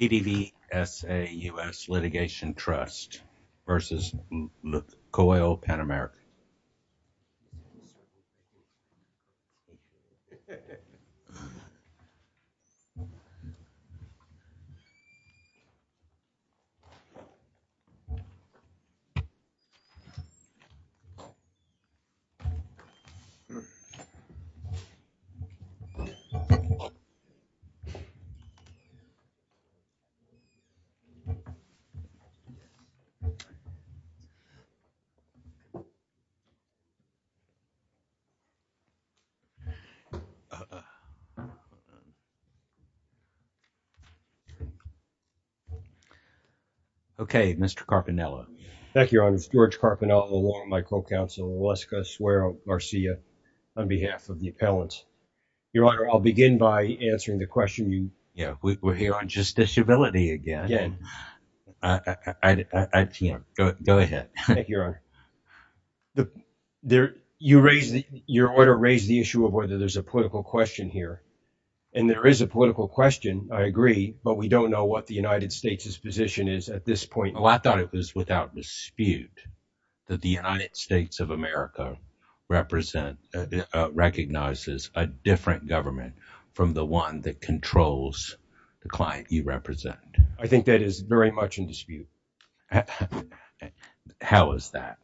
PDVSA US Litigation Trust v. Lukoil Pan Americas LLC PDVSA US Litigation Trust v. Lukoil Pan Americas LLC Okay Mr. Carpinello. Thank you, Your Honor. It's George Carpinello along with my co-counsel Oleska Suero Garcia on behalf of the appellants. Your Honor, I'll Your Honor, your order raised the issue of whether there's a political question here. And there is a political question, I agree, but we don't know what the United States' position is at this point. Well, I thought it was without dispute that the United States of America recognizes a different government from the one that controls the client you represent. I think that is very much in dispute. How is that?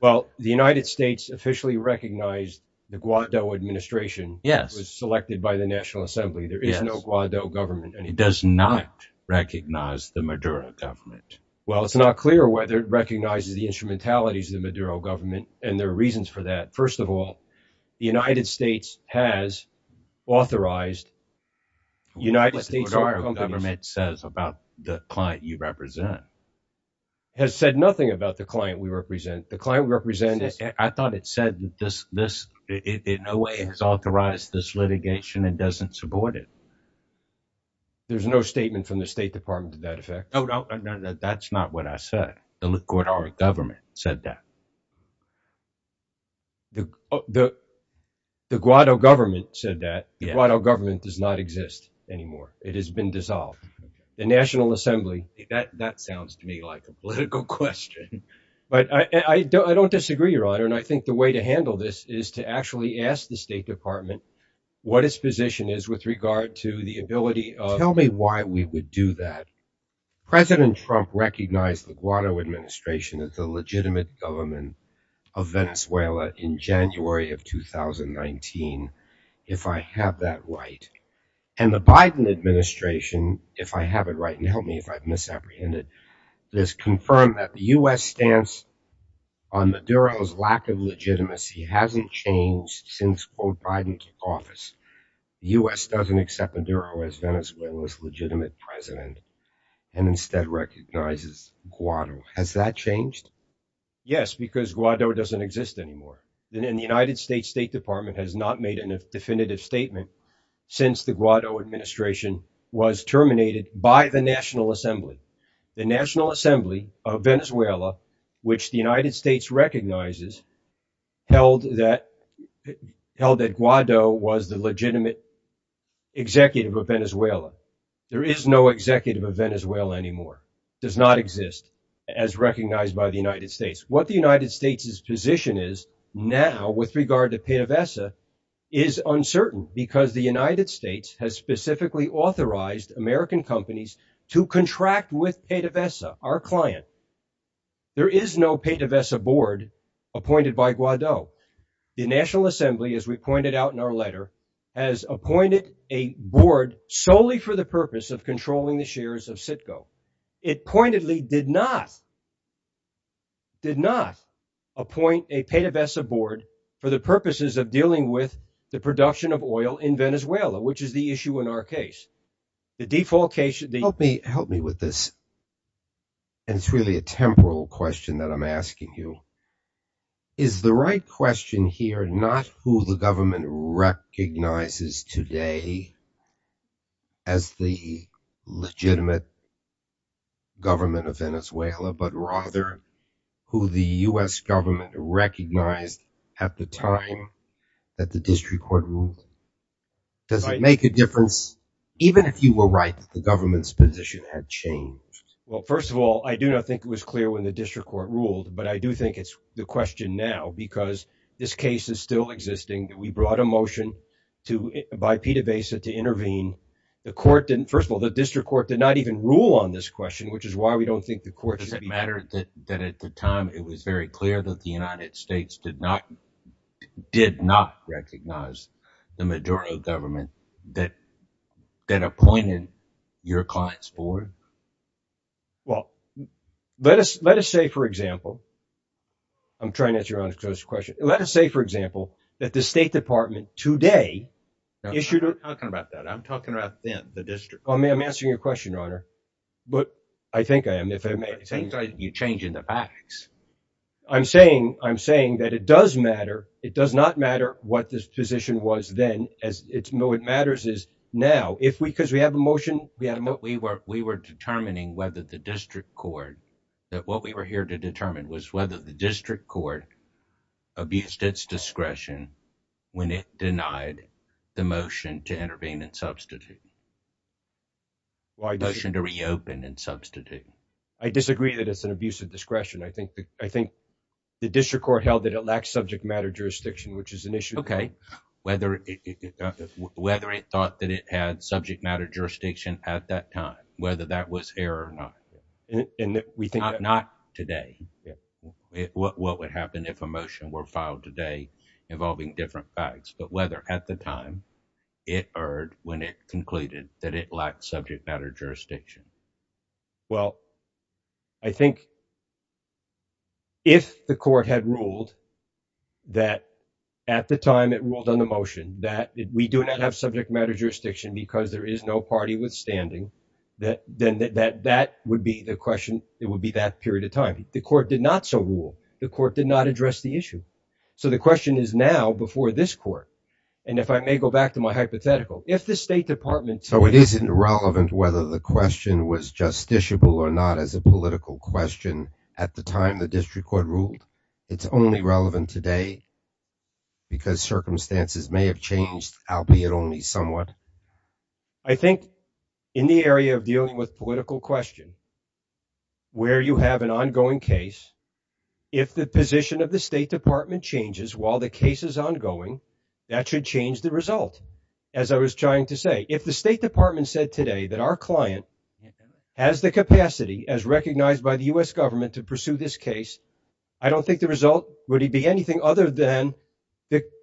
Well, the United States officially recognized the Guado administration. Yes. It was selected by the National Assembly. There is no Guado government. It does not recognize the Maduro government. Well, it's not clear whether it recognizes the instrumentalities of the Maduro government and there are reasons for that. First of all, the United States has authorized United States government says about the client you represent. It has said nothing about the client we represent. The client we represent, I thought it said that this in no way has authorized this litigation and doesn't support it. There's no statement from the State Department to that effect. No, no, that's not what I said. The Guado government said that. The Guado government said that. The Guado government does not exist anymore. It has been dissolved. The National Assembly. That sounds to me like a political question. But I don't disagree, Your Honor. And I think the way to handle this is to actually ask the State Department what its position is with regard to the ability of. Tell me why we would do that. President Trump recognized the Guado administration as the legitimate government of Venezuela in January of 2019. If I have that right and the Biden administration, if I have it right, and help me if I've misapprehended this confirmed that the U.S. stance on the Maduro's lack of legitimacy hasn't changed since Biden took office. The U.S. doesn't accept Maduro as Venezuela's legitimate president and instead recognizes Guado. Has that changed? Yes, because Guado doesn't exist anymore. And the United States State Department has not made a definitive statement since the Guado administration was terminated by the National Assembly. The National Assembly of held that Guado was the legitimate executive of Venezuela. There is no executive of Venezuela anymore. Does not exist as recognized by the United States. What the United States' position is now with regard to PDVSA is uncertain because the United States has specifically authorized American companies to contract with PDVSA, our client. There is no PDVSA board appointed by Guado. The National Assembly, as we pointed out in our letter, has appointed a board solely for the purpose of controlling the shares of Citgo. It pointedly did not, did not appoint a PDVSA board for the purposes of dealing with the production of oil in Venezuela, which is the issue in our case. The default case... Help me, help me with this. And it's really a temporal question that I'm asking you. Is the right question here not who the government recognizes today as the legitimate government of Venezuela, but rather who the U.S. government recognized at the time that the district court ruled? Does it make a difference, even if you were right that the government's position had changed? Well, first of all, I do not think it was clear when the district court ruled, but I do think it's the question now because this case is still existing. We brought a motion by PDVSA to intervene. The court didn't... First of all, the district court did not even rule on this question, which is why we don't think the court should be... Does it matter that at the time it was very clear that the United States did not recognize the Maduro government that appointed your clients forward? Well, let us say, for example... I'm trying to answer your own question. Let us say, for example, that the State Department today issued a... I'm not talking about that. I'm talking about then, the district court. I'm answering your question, Your Honor, but I think I am. You're changing the facts. I'm saying that it does matter. It does not matter what this position was then. What matters is now. Because we have a motion... We were determining whether the district court... What we were here to determine was whether the district court abused its discretion when it denied the motion to intervene and substitute, the motion to reopen and substitute. I disagree that it's an abuse of discretion. I think the district court held that it lacked subject matter jurisdiction, which is an issue. Okay. Whether it thought that it had subject matter jurisdiction at that time, whether that was here or not. Not today. What would happen if a motion were filed today involving different facts, but whether at the time it erred when it concluded that it lacked subject matter jurisdiction? Well, I think if the court had ruled that at the time it ruled on the motion that we do not have subject matter jurisdiction because there is no party with standing, then that would be the question. It would be that period of time. The court did not so rule. The court did not address the issue. So the question is now before this court. And if I may go back to my hypothetical, if the state department... So it isn't relevant whether the question was justiciable or not as a political question at the time the district court ruled. It's only relevant today because circumstances may have changed, albeit only somewhat. I think in the area of dealing with political question, where you have an ongoing case, if the position of the state department changes while the case is ongoing, that should change the result. As I was trying to say, if the state department said today that our client has the capacity as recognized by the U.S. government to pursue this case, I don't think the result would be anything other than...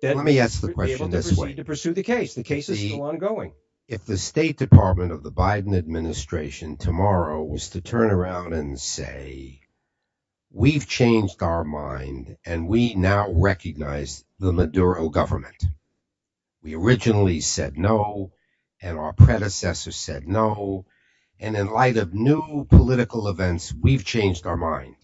Let me ask the question this way. ...to pursue the case. The case is still ongoing. If the state department of the Biden administration tomorrow was to turn around and say, we've changed our mind and we now recognize the Maduro government. We originally said no, and our predecessor said no. And in light of new political events, we've changed our mind.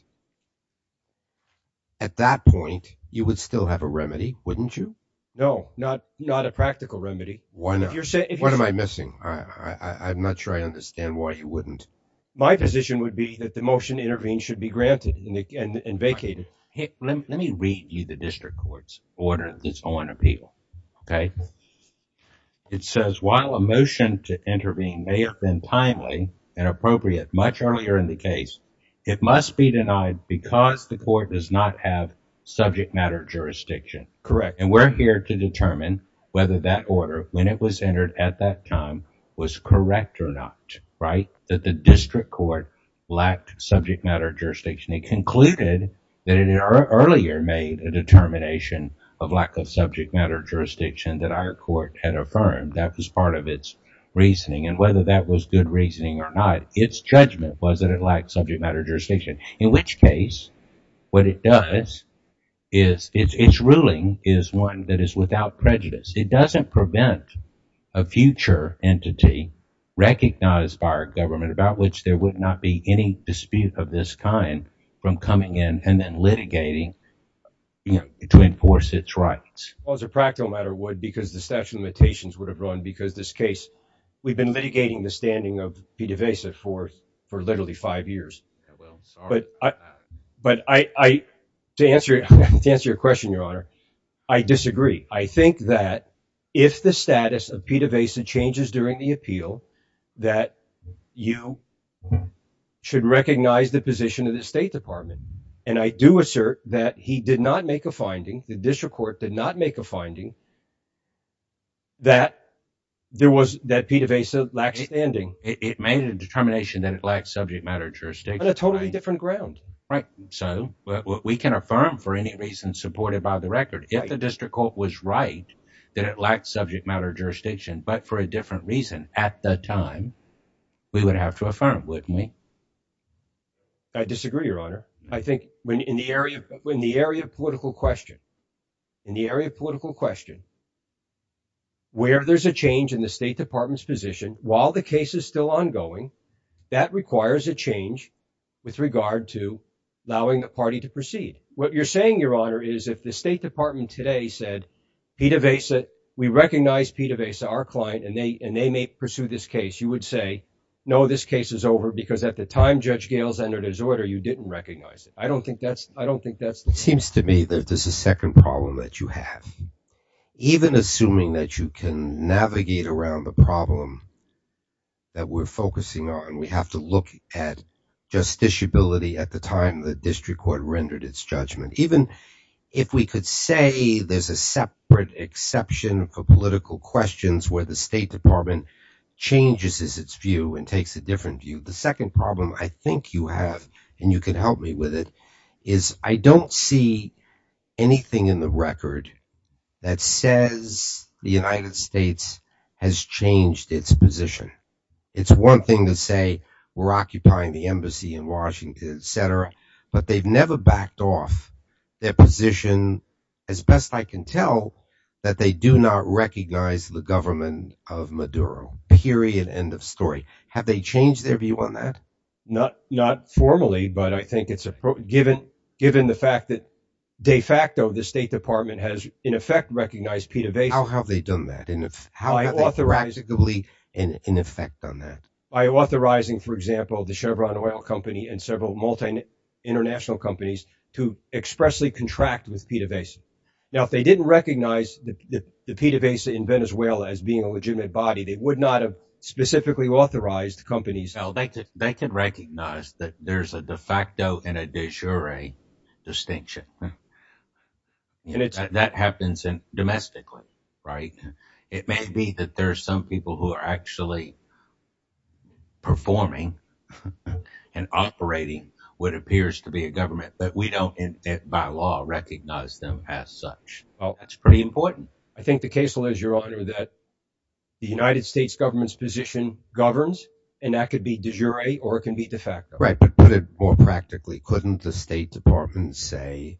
At that point, you would still have a remedy, wouldn't you? No, not a practical remedy. Why not? What am I missing? I'm not sure I understand why you wouldn't. My position would be that the motion to intervene should be granted and vacated. Let me read you the district court's order that's on appeal, okay? It says, while a motion to intervene may have been timely and appropriate much earlier in the case, it must be denied because the court does not have subject matter jurisdiction. Correct. And we're here to determine whether that order, when it was entered at that time, was correct or not, right? That the district court lacked subject matter jurisdiction. It concluded that it had earlier made a determination of lack of subject matter jurisdiction that our court had affirmed. That was part of its reasoning. And whether that was good reasoning or not, its judgment was that it lacked subject matter jurisdiction, in which case what it does is its ruling is one that is without prejudice. It doesn't prevent a future entity recognized by our government, about which there would not be any dispute of this kind, from coming in and then litigating to enforce its rights. Well, as a practical matter would, because the statute of limitations would have run, because this case, we've been litigating the standing of Pita Vesa for literally five years. Yeah, well, sorry about that. But to answer your question, Your Honor, I disagree. I think that if the status of Pita Vesa changes during the appeal, that you should recognize the position of the State Department. And I do assert that he did not make a finding, the district court did not make a finding, that Pita Vesa lacks standing. It made a determination that it lacks subject matter jurisdiction. On a totally different ground. Right. So we can affirm for any reason supported by the record, if the district court was right, that it lacked subject matter jurisdiction, but for a different reason at the time, we would have to affirm, wouldn't we? I disagree, Your Honor. I think when the area of political question, in the area of political question, where there's a change in the State Department's position, while the case is still ongoing, that requires a change with regard to allowing the party to proceed. What you're saying, Your Honor, is if the State Department today said, Pita Vesa, we recognize Pita Vesa, our client, and they may pursue this case, you would say, no, this case is over because at the time Judge Gales entered his order, you didn't recognize it. I don't think that's, I don't think that's- Seems to me that there's a second problem that you have. Even assuming that you can navigate around the problem that we're focusing on, we have to look at justiciability at the time the district court rendered its judgment. Even if we could say there's a separate exception for political questions where the State Department changes its view and takes a different view. The second problem I think you have, and you can help me with it, is I don't see anything in the record that says the United States has changed its position. It's one thing to say we're occupying the embassy in Washington, et cetera, but they've never backed off their position, as best I can tell, that they do not recognize the government of Maduro, period, end of story. Have they changed their view on that? Not formally, but I think it's, given the fact that de facto the State Department has, in effect, recognized PDVSA- How have they done that? How have they practically, in effect, done that? By authorizing, for example, the Chevron oil company and several multi-international companies to expressly contract with PDVSA. Now, if they didn't recognize the PDVSA in Venezuela as being a legitimate body, they would not have specifically authorized companies- They can recognize that there's a de facto and a de jure distinction. That happens domestically, right? It may be that there are some people who are actually performing and operating what appears to be a government, but we don't, by law, recognize them as such. That's pretty important. I think the case lays, Your Honor, that the United States government's position governs, and that could be de jure or it can be de facto. Right, but put it more practically. Couldn't the State Department say,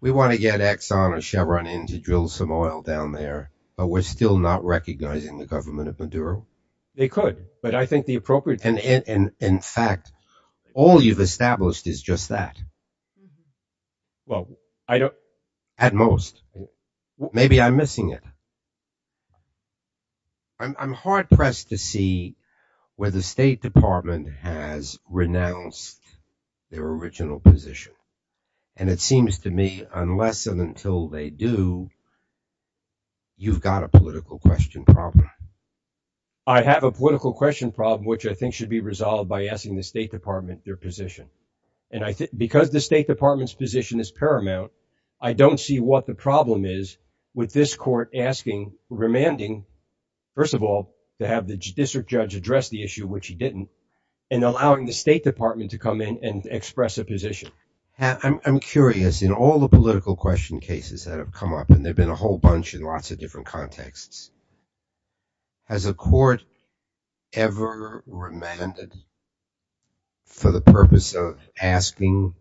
we want to get Exxon or Chevron in to drill some oil down there, but we're still not recognizing the government of Maduro? They could, but I think the appropriate- And in fact, all you've established is just that. Well, I don't- At most. Maybe I'm missing it. I'm hard-pressed to see where the State Department has renounced their original position, and it seems to me, unless and until they do, you've got a political question problem. I have a political question problem, which I think should be resolved by asking the State Department their position, and because the State Department's position is paramount, I don't see what the problem is with this court asking, remanding, first of all, to have the district judge address the issue, which he didn't, and allowing the State Department to come in and express a position. I'm curious, in all the political question cases that have come up, and there've been a whole bunch in lots of different contexts, has a court ever remanded for the purpose of asking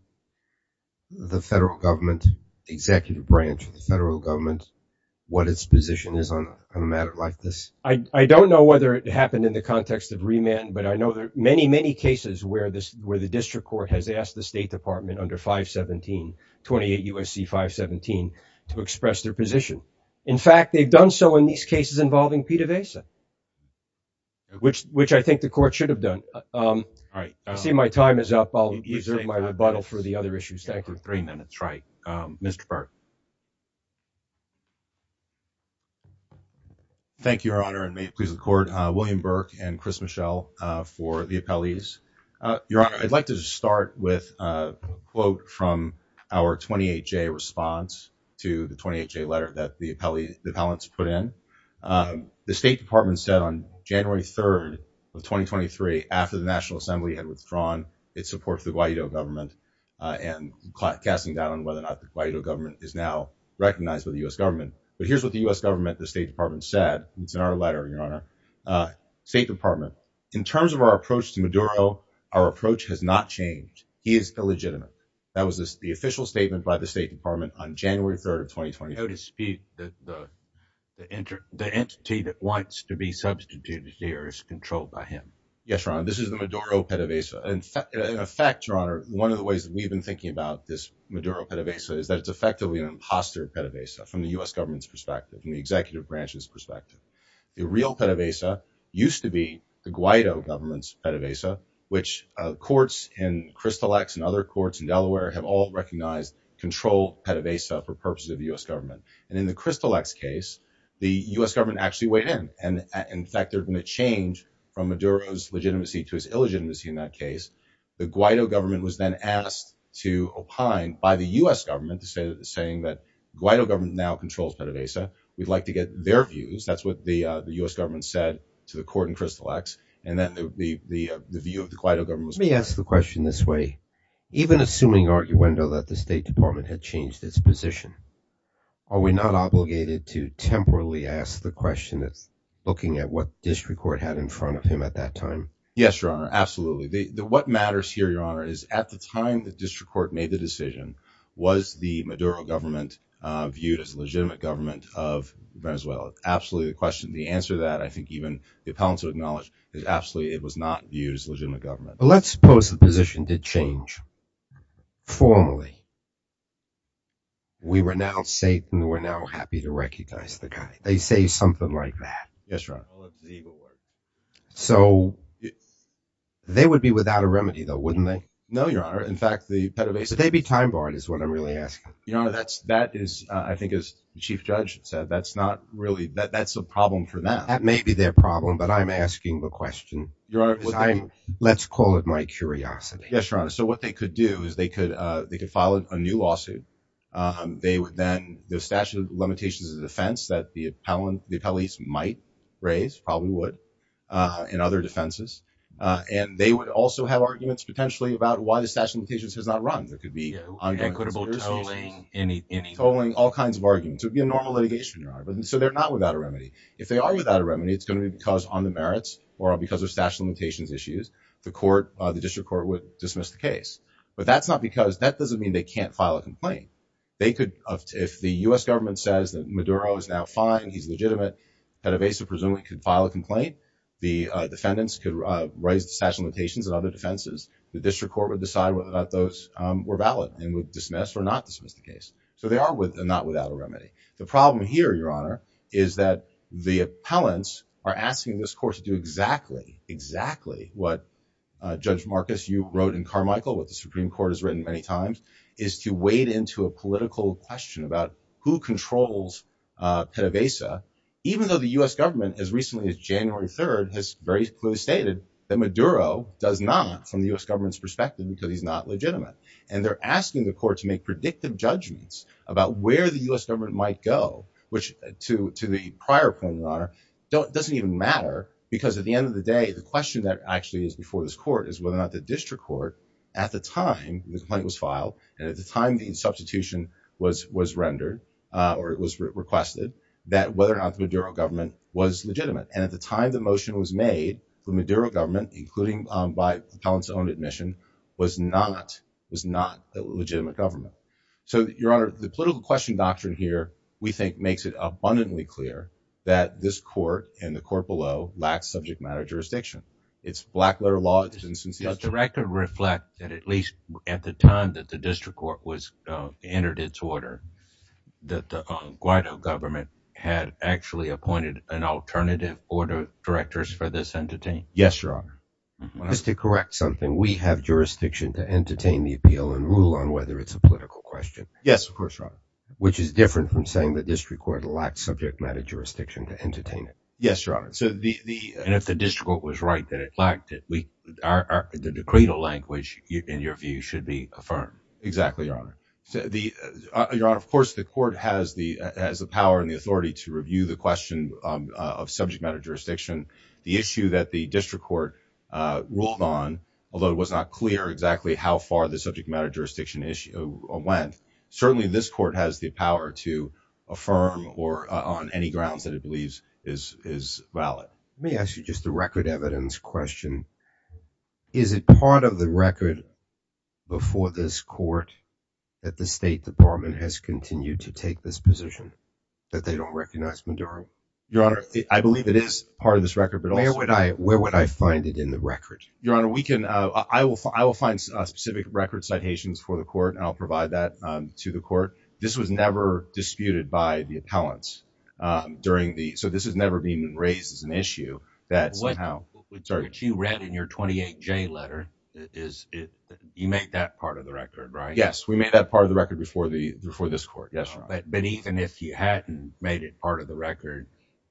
the federal government, the executive branch of the federal government, what its position is on a matter like this? I don't know whether it happened in the context of remand, but I know there are many, many cases where the district court has asked the State Department under 517, 28 U.S.C. 517, to express their position. In fact, they've done so in these cases involving PDVSA, which I think the court should have done. I see my time is up. I'll reserve my rebuttal for the other issues. Thank you. Thank you, Your Honor, and may it please the court. William Burke and Chris Michel for the appellees. Your Honor, I'd like to just start with a quote from our 28-J response to the 28-J letter that the appellants put in. The State Department said on January 3rd of 2023, after the National Assembly had withdrawn its support for the Guaido government and casting doubt on whether or not the Guaido government is now recognized by the U.S. government, but here's what the U.S. government, the State Department, said. It's in our letter, Your Honor. State Department, in terms of our approach to Maduro, our approach has not changed. He is illegitimate. That was the official statement by the State Department on January 3rd of 2020. No dispute that the entity that wants to be substituted here is controlled by him. Yes, Your Honor, this is the Maduro PDVSA. In fact, Your Honor, one of the ways that we've been thinking about this Maduro PDVSA is that it's effectively an imposter PDVSA from the U.S. government's perspective, from the executive branch's perspective. The real PDVSA used to be the Guaido government's PDVSA, which courts in Crystal X and other courts in Delaware have all recognized control PDVSA for purposes of the U.S. government. In the Crystal X case, the U.S. government actually weighed in. In fact, they're going to change from Maduro's legitimacy to his illegitimacy in that case. The Guaido government was then asked to opine by the U.S. government saying that the Guaido government now controls PDVSA. We'd like to get their views. That's what the U.S. government said to the court in Crystal X. And then the view of the Guaido government was... Let me ask the question this way. Even assuming arguendo that the State Department had changed its position, are we not obligated to temporarily ask the question that's looking at what district court had in front of him at that time? Yes, Your Honor, absolutely. What matters here, Your Honor, is at the time the district court made the decision, was the Maduro government viewed as a legitimate government of Venezuela? Absolutely the question. The answer to that, I think even the appellants would acknowledge, is absolutely it was not viewed as legitimate government. Let's suppose the position did change formally. We renounce Satan, we're now happy to recognize the guy. They say something like that. Yes, Your Honor. So they would be without a remedy though, wouldn't they? No, Your Honor. In fact, they'd be time-barred is what I'm really asking. Your Honor, that is, I think as the Chief Judge said, that's not really... That's a problem for them. That may be their problem, but I'm asking the question. Your Honor, let's call it my curiosity. Yes, Your Honor. So what they could do is they could file a new lawsuit. They would then... The statute of limitations of defense that the appellees might raise, probably would, in other defenses. And they would also have unequitable tolling, any... Tolling, all kinds of arguments. It would be a normal litigation, Your Honor. So they're not without a remedy. If they are without a remedy, it's going to be because on the merits or because of statute of limitations issues, the court, the district court would dismiss the case. But that's not because... That doesn't mean they can't file a complaint. They could... If the U.S. government says that Maduro is now fine, he's legitimate, that a base of presuming could file a complaint, the defendants could raise the statute of defenses. The district court would decide whether or not those were valid and would dismiss or not dismiss the case. So they are with and not without a remedy. The problem here, Your Honor, is that the appellants are asking this court to do exactly, exactly what Judge Marcus, you wrote in Carmichael, what the Supreme Court has written many times, is to wade into a political question about who controls PDVSA, even though the U.S. government as recently as January 3rd has very does not, from the U.S. government's perspective, because he's not legitimate. And they're asking the court to make predictive judgments about where the U.S. government might go, which to the prior point, Your Honor, doesn't even matter because at the end of the day, the question that actually is before this court is whether or not the district court, at the time the complaint was filed and at the time the substitution was rendered or it was requested, that whether or not the Maduro government was legitimate. And at the time the motion was made from the Maduro government, including by the appellant's own admission, was not, was not a legitimate government. So, Your Honor, the political question doctrine here, we think, makes it abundantly clear that this court and the court below lacks subject matter jurisdiction. It's black letter law, it's insincere. Does the record reflect that at least at the time that the district court was, entered its order, that the Guaido government had actually appointed an alternative order directors for this entity? Yes, Your Honor. Just to correct something, we have jurisdiction to entertain the appeal and rule on whether it's a political question. Yes, of course, Your Honor. Which is different from saying the district court lacked subject matter jurisdiction to entertain it. Yes, Your Honor. So the, the, and if the district court was right that it lacked it, we are, the decreed language in your view should be affirmed. Exactly, Your Honor. So the, Your Honor, of course, the court has the, has the power and the authority to review the question of subject matter jurisdiction. The issue that the district court ruled on, although it was not clear exactly how far the subject matter jurisdiction issue went, certainly this court has the power to affirm or on any grounds that it believes is, is valid. Let me ask you just the record evidence question. Is it part of the record before this court that the State Department has continued to this record? But where would I, where would I find it in the record? Your Honor, we can, I will, I will find a specific record citations for the court and I'll provide that to the court. This was never disputed by the appellants during the, so this has never been raised as an issue that somehow you read in your 28 J letter is you make that part of the record, right? Yes, we made that part of the record before the, before this court. Yes. But even if you hadn't made it part of the record,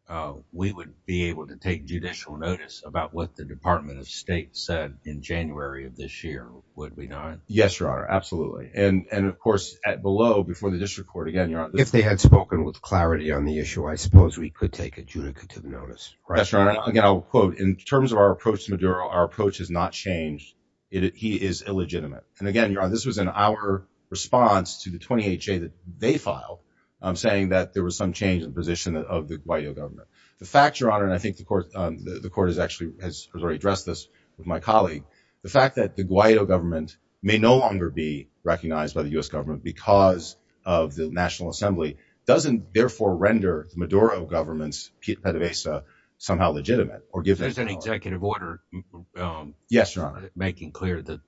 uh, we would be able to take judicial notice about what the Department of State said in January of this year. Would we not? Yes, Your Honor. Absolutely. And, and of course at below before the district court, again, if they had spoken with clarity on the issue, I suppose we could take adjudicative notice. Again, I'll quote in terms of our approach to Maduro, our approach has not changed. It, he is illegitimate. And again, Your Honor, this was an hour response to the 28 J that they filed. I'm saying that there was some change in position of the Guaido government. The fact Your Honor, and I think the court, the court has actually has already addressed this with my colleague. The fact that the Guaido government may no longer be recognized by the U S government because of the national assembly doesn't therefore render Maduro government's Pete Pettibasa somehow legitimate or give them an executive order. Um, yes, Your Honor, making clear that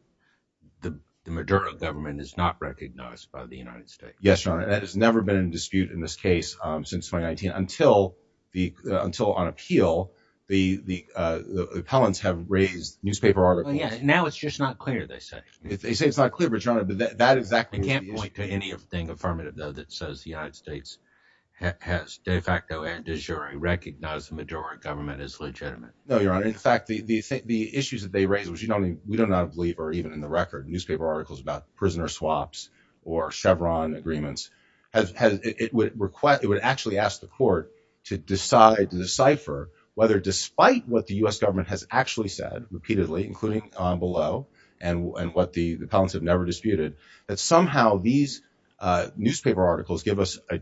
the Maduro government is not recognized by the United States. Yes, Your Honor. That has never been in dispute in this case, um, since 2019 until the, until on appeal, the, the, uh, the appellants have raised newspaper articles. Now it's just not clear. They say, they say it's not clear, but Your Honor, but that exactly can't point to anything affirmative though, that says the United States has de facto and de jure recognize the Maduro government is no, Your Honor. In fact, the, the, the issues that they raised was, you know, we don't not believe, or even in the record newspaper articles about prisoner swaps or Chevron agreements has, has, it would request, it would actually ask the court to decide to decipher whether, despite what the U S government has actually said repeatedly, including on below and, and what the, the pounds have never disputed that somehow these, uh, newspaper articles give us, uh,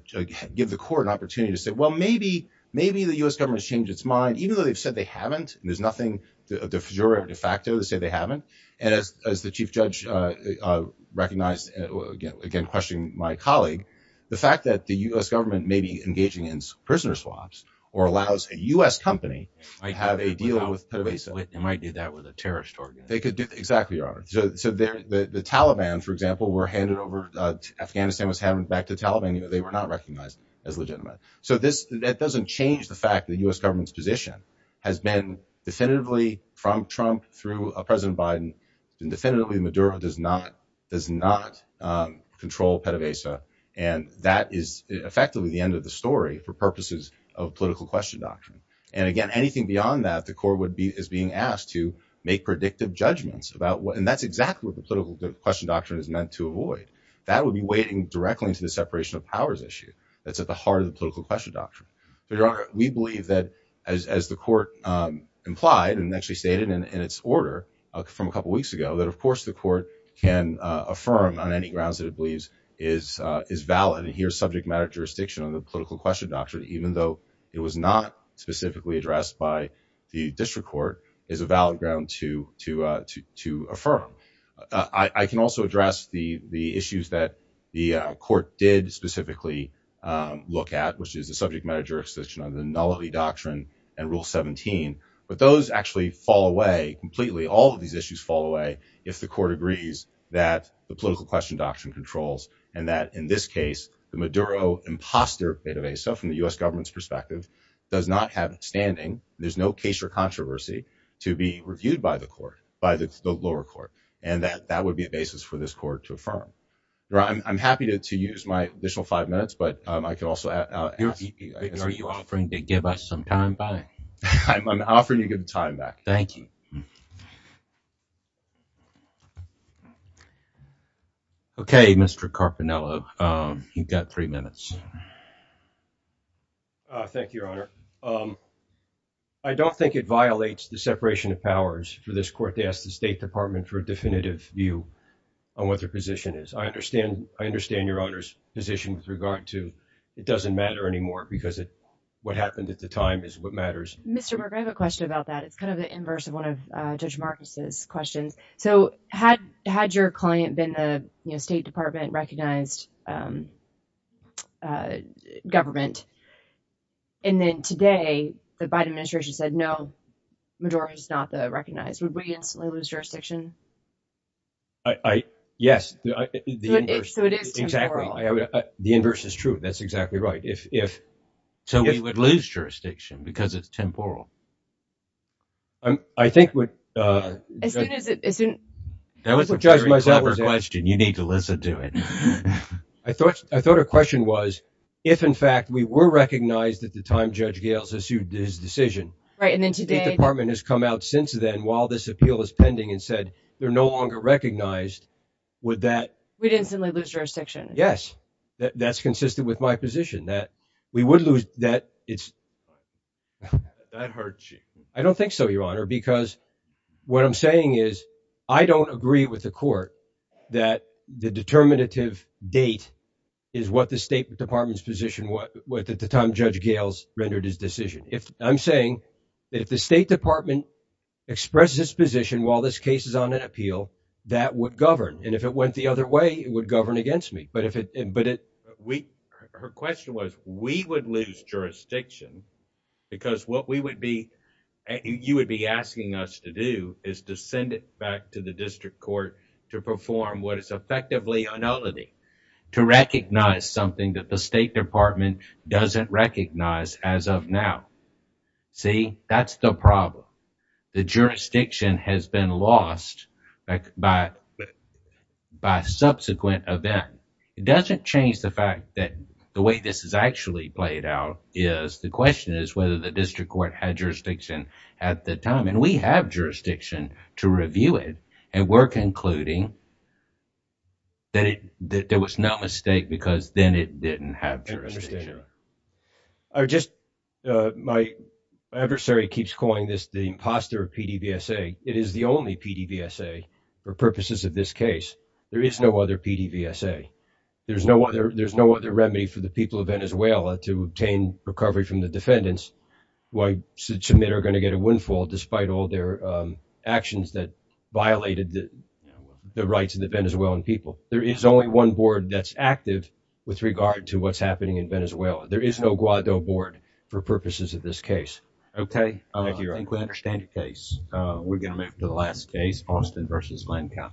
give the court an opportunity to say, well, maybe, maybe the U S government has changed its mind, even though they've said they haven't, and there's nothing, uh, de jure or de facto, they say they haven't. And as, as the chief judge, uh, uh, recognized, uh, again, again, questioning my colleague, the fact that the U S government may be engaging in prisoner swaps or allows a U S company, I have a deal with, and I did that with a terrorist org. They could do exactly. Your Honor. So, so there, the, the Taliban, for example, were handed over, uh, Afghanistan was having back to Taliban, you know, they were not recognized as legitimate. So this, that doesn't change the fact that the U S government's position has been definitively from Trump through a president Biden and definitively Maduro does not, does not, um, control PETA VASA. And that is effectively the end of the story for purposes of political question doctrine. And again, anything beyond that, the court would be, is being asked to make predictive judgments about what, and that's exactly what the political question doctrine is meant to avoid. That would be waiting directly into the separation of powers issue. That's at the heart of the doctrine. We believe that as, as the court, um, implied and actually stated in its order from a couple of weeks ago, that of course the court can, uh, affirm on any grounds that it believes is, uh, is valid and here's subject matter jurisdiction on the political question doctrine, even though it was not specifically addressed by the district court is a valid ground to, to, uh, to, to affirm. Uh, I can also address the, the issues that the court did specifically, um, look at, which is a subject matter jurisdiction on the nullity doctrine and rule 17, but those actually fall away completely. All of these issues fall away. If the court agrees that the political question doctrine controls, and that in this case, the Maduro imposter database, so from the U S government's perspective does not have standing, there's no case or controversy to be reviewed by the court, by the lower court. And that, that would be a basis for this court to affirm. I'm happy to, to use my additional five minutes, but I can also ask you, are you offering to give us some time back? I'm offering you a good time back. Thank you. Okay. Mr. Carpinello, um, you've got three minutes. Uh, thank you, your honor. Um, I don't think it violates the separation of powers for this to ask the state department for a definitive view on what their position is. I understand, I understand your honor's position with regard to, it doesn't matter anymore because it, what happened at the time is what matters. I have a question about that. It's kind of the inverse of one of Judge Marcus's questions. So had, had your client been the state department recognized, um, uh, government, and then today the Biden administration said, no, majority is not the recognized. Would we instantly lose jurisdiction? I, yes. The inverse is true. That's exactly right. If, if, so we would lose jurisdiction because it's temporal. Um, I think with, uh, as soon as it, as soon as you need to listen to it, I thought, I thought her question was if in fact we were recognized at the time, his decision, right. And then today the department has come out since then while this appeal is pending and said, they're no longer recognized. Would that, we didn't suddenly lose jurisdiction. Yes. That's consistent with my position that we would lose that. It's that hurts you. I don't think so, your honor, because what I'm saying is I don't agree with the court that the determinative date is what the state department's position was at the time Gail's rendered his decision. If I'm saying that if the state department expressed this position, while this case is on an appeal that would govern. And if it went the other way, it would govern against me. But if it, but it, we, her question was, we would lose jurisdiction because what we would be, you would be asking us to do is to send it back to the district court to perform what is effectively a novelty to recognize something that the state department doesn't recognize as of now. See, that's the problem. The jurisdiction has been lost by, by subsequent event. It doesn't change the fact that the way this is actually played out is the question is whether the district court had jurisdiction at the time. And we have jurisdiction to review it. And we're concluding that it, that there was no mistake because then it didn't have any jurisdiction. I just, my adversary keeps calling this the imposter of PDVSA. It is the only PDVSA for purposes of this case. There is no other PDVSA. There's no other, there's no other remedy for the people of Venezuela to obtain recovery from the defendants who I submit are going to get a windfall despite all their actions that violated the rights of the Venezuelan people. There is only one board that's active with regard to what's happening in Venezuela. There is no Guaido board for purposes of this case. Okay. Thank you. I think we understand your case. We're going to move to the last case, Austin versus Lancap.